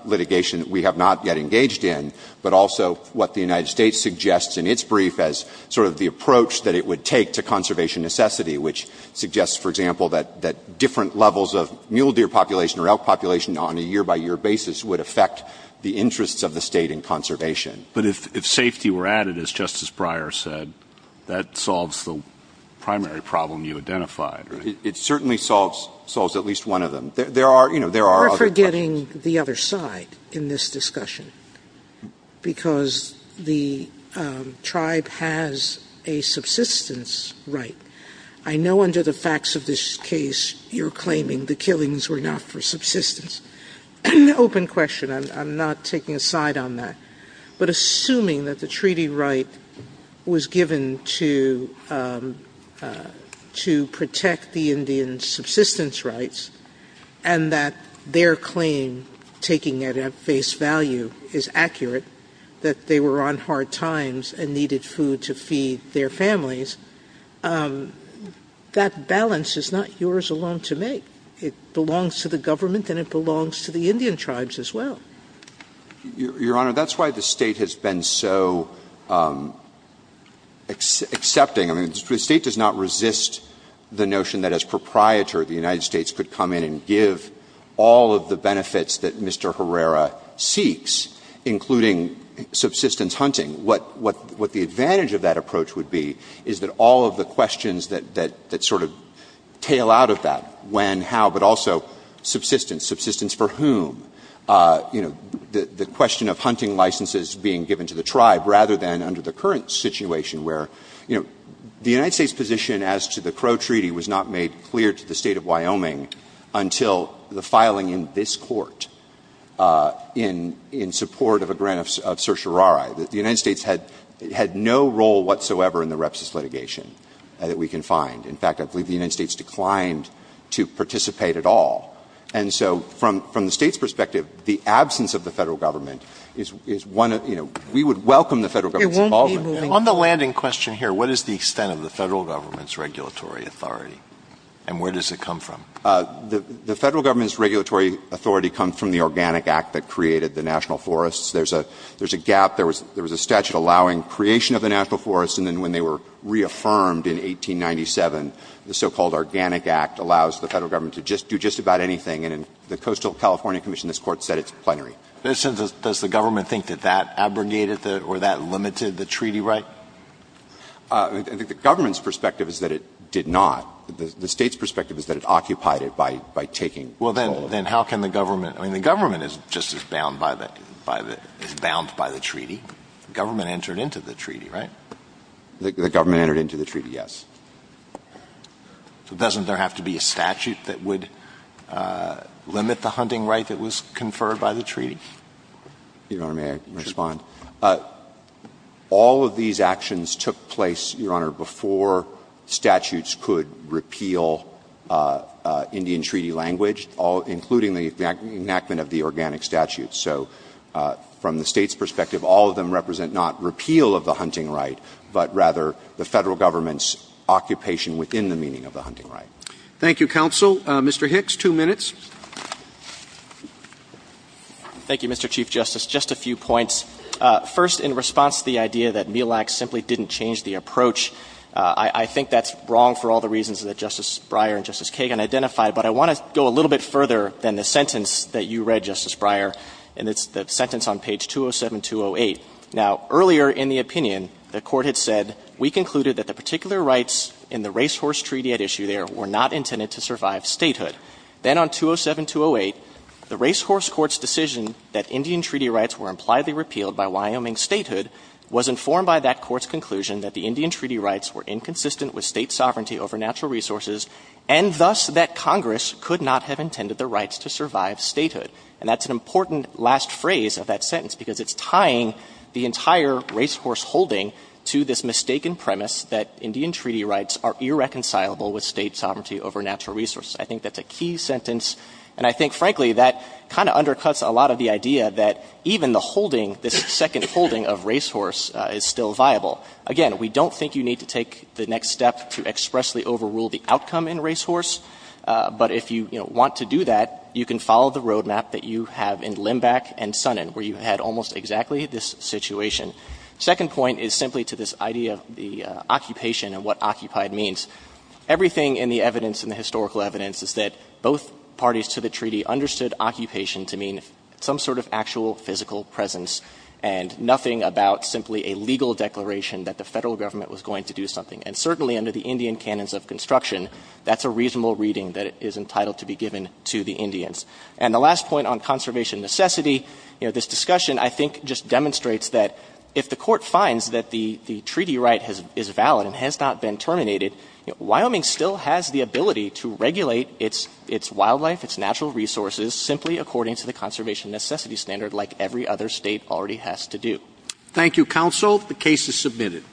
litigation that we have not yet engaged in, but also what the United States suggests in its brief as sort of the approach that it would take to conservation necessity, which suggests, for example, that different levels of mule deer population or elk population on a year-by-year basis would affect the interests of the State in conservation. But if safety were added, as Justice Breyer said, that solves the primary problem you identified, right? It certainly solves at least one of them. There are, you know, there are other questions. You're forgetting the other side in this discussion, because the tribe has a subsistence right. I know under the facts of this case you're claiming the killings were not for subsistence. Open question. I'm not taking a side on that. But assuming that the treaty right was given to protect the Indian subsistence rights and that their claim, taking it at face value, is accurate, that they were on hard times and needed food to feed their families, that balance is not yours alone to make. It belongs to the government and it belongs to the Indian tribes as well. Your Honor, that's why the State has been so accepting. I mean, the State does not resist the notion that as proprietor the United States could come in and give all of the benefits that Mr. Herrera seeks, including subsistence hunting. What the advantage of that approach would be is that all of the questions that sort of tail out of that, when, how, but also subsistence, subsistence for whom, you know, the question of hunting licenses being given to the tribe, rather than under the current situation where, you know, the United States position as to the Crow Treaty was not made clear to the State of Wyoming until the filing in this court in support of a grant of certiorari. The United States had no role whatsoever in the repsis litigation that we can find. In fact, I believe the United States declined to participate at all. And so from the State's perspective, the absence of the Federal Government is one of, you know, we would welcome the Federal Government's involvement. On the landing question here, what is the extent of the Federal Government's regulatory authority and where does it come from? The Federal Government's regulatory authority comes from the Organic Act that created the national forests. There's a gap. There was a statute allowing creation of the national forests. And then when they were reaffirmed in 1897, the so-called Organic Act allows the Federal Government to just do just about anything. And in the Coastal California Commission, this Court said it's plenary. Alitoson, does the government think that that abrogated or that limited the treaty right? I think the government's perspective is that it did not. The State's perspective is that it occupied it by taking all of it. Well, then how can the government? I mean, the government is just as bound by the treaty. The government entered into the treaty, right? The government entered into the treaty, yes. So doesn't there have to be a statute that would limit the hunting right that was conferred by the treaty? Your Honor, may I respond? Sure. All of these actions took place, Your Honor, before statutes could repeal Indian treaty language, including the enactment of the organic statute. So from the State's perspective, all of them represent not repeal of the hunting right, but rather the Federal Government's occupation within the meaning of the hunting right. Thank you, counsel. Mr. Hicks, two minutes. Thank you, Mr. Chief Justice. Just a few points. First, in response to the idea that MILAC simply didn't change the approach, I think that's wrong for all the reasons that Justice Breyer and Justice Kagan identified. But I want to go a little bit further than the sentence that you read, Justice Breyer, and it's the sentence on page 207-208. Now, earlier in the opinion, the Court had said, We concluded that the particular rights in the racehorse treaty at issue there were not intended to survive statehood. Then on 207-208, the racehorse court's decision that Indian treaty rights were impliedly repealed by Wyoming statehood was informed by that court's conclusion that the Indian treaty rights were inconsistent with State sovereignty over natural resources, and thus that Congress could not have intended the rights to survive statehood. And that's an important last phrase of that sentence, because it's tying the entire racehorse holding to this mistaken premise that Indian treaty rights are irreconcilable with State sovereignty over natural resources. I think that's a key sentence, and I think, frankly, that kind of undercuts a lot of the idea that even the holding, this second holding of racehorse is still viable. Again, we don't think you need to take the next step to expressly overrule the outcome in racehorse, but if you, you know, want to do that, you can follow the road map that you have in Limbach and Sonnen, where you had almost exactly this situation. Second point is simply to this idea of the occupation and what occupied means. Everything in the evidence, in the historical evidence, is that both parties to the treaty understood occupation to mean some sort of actual physical presence, and nothing about simply a legal declaration that the Federal Government was going to do something. And certainly under the Indian canons of construction, that's a reasonable reading that is entitled to be given to the Indians. And the last point on conservation necessity, you know, this discussion I think just demonstrates that if the Court finds that the treaty right is valid and has not been terminated, Wyoming still has the ability to regulate its wildlife, its natural resources, simply according to the conservation necessity standard like every other State already has to do. Roberts. Thank you, counsel. The case is submitted.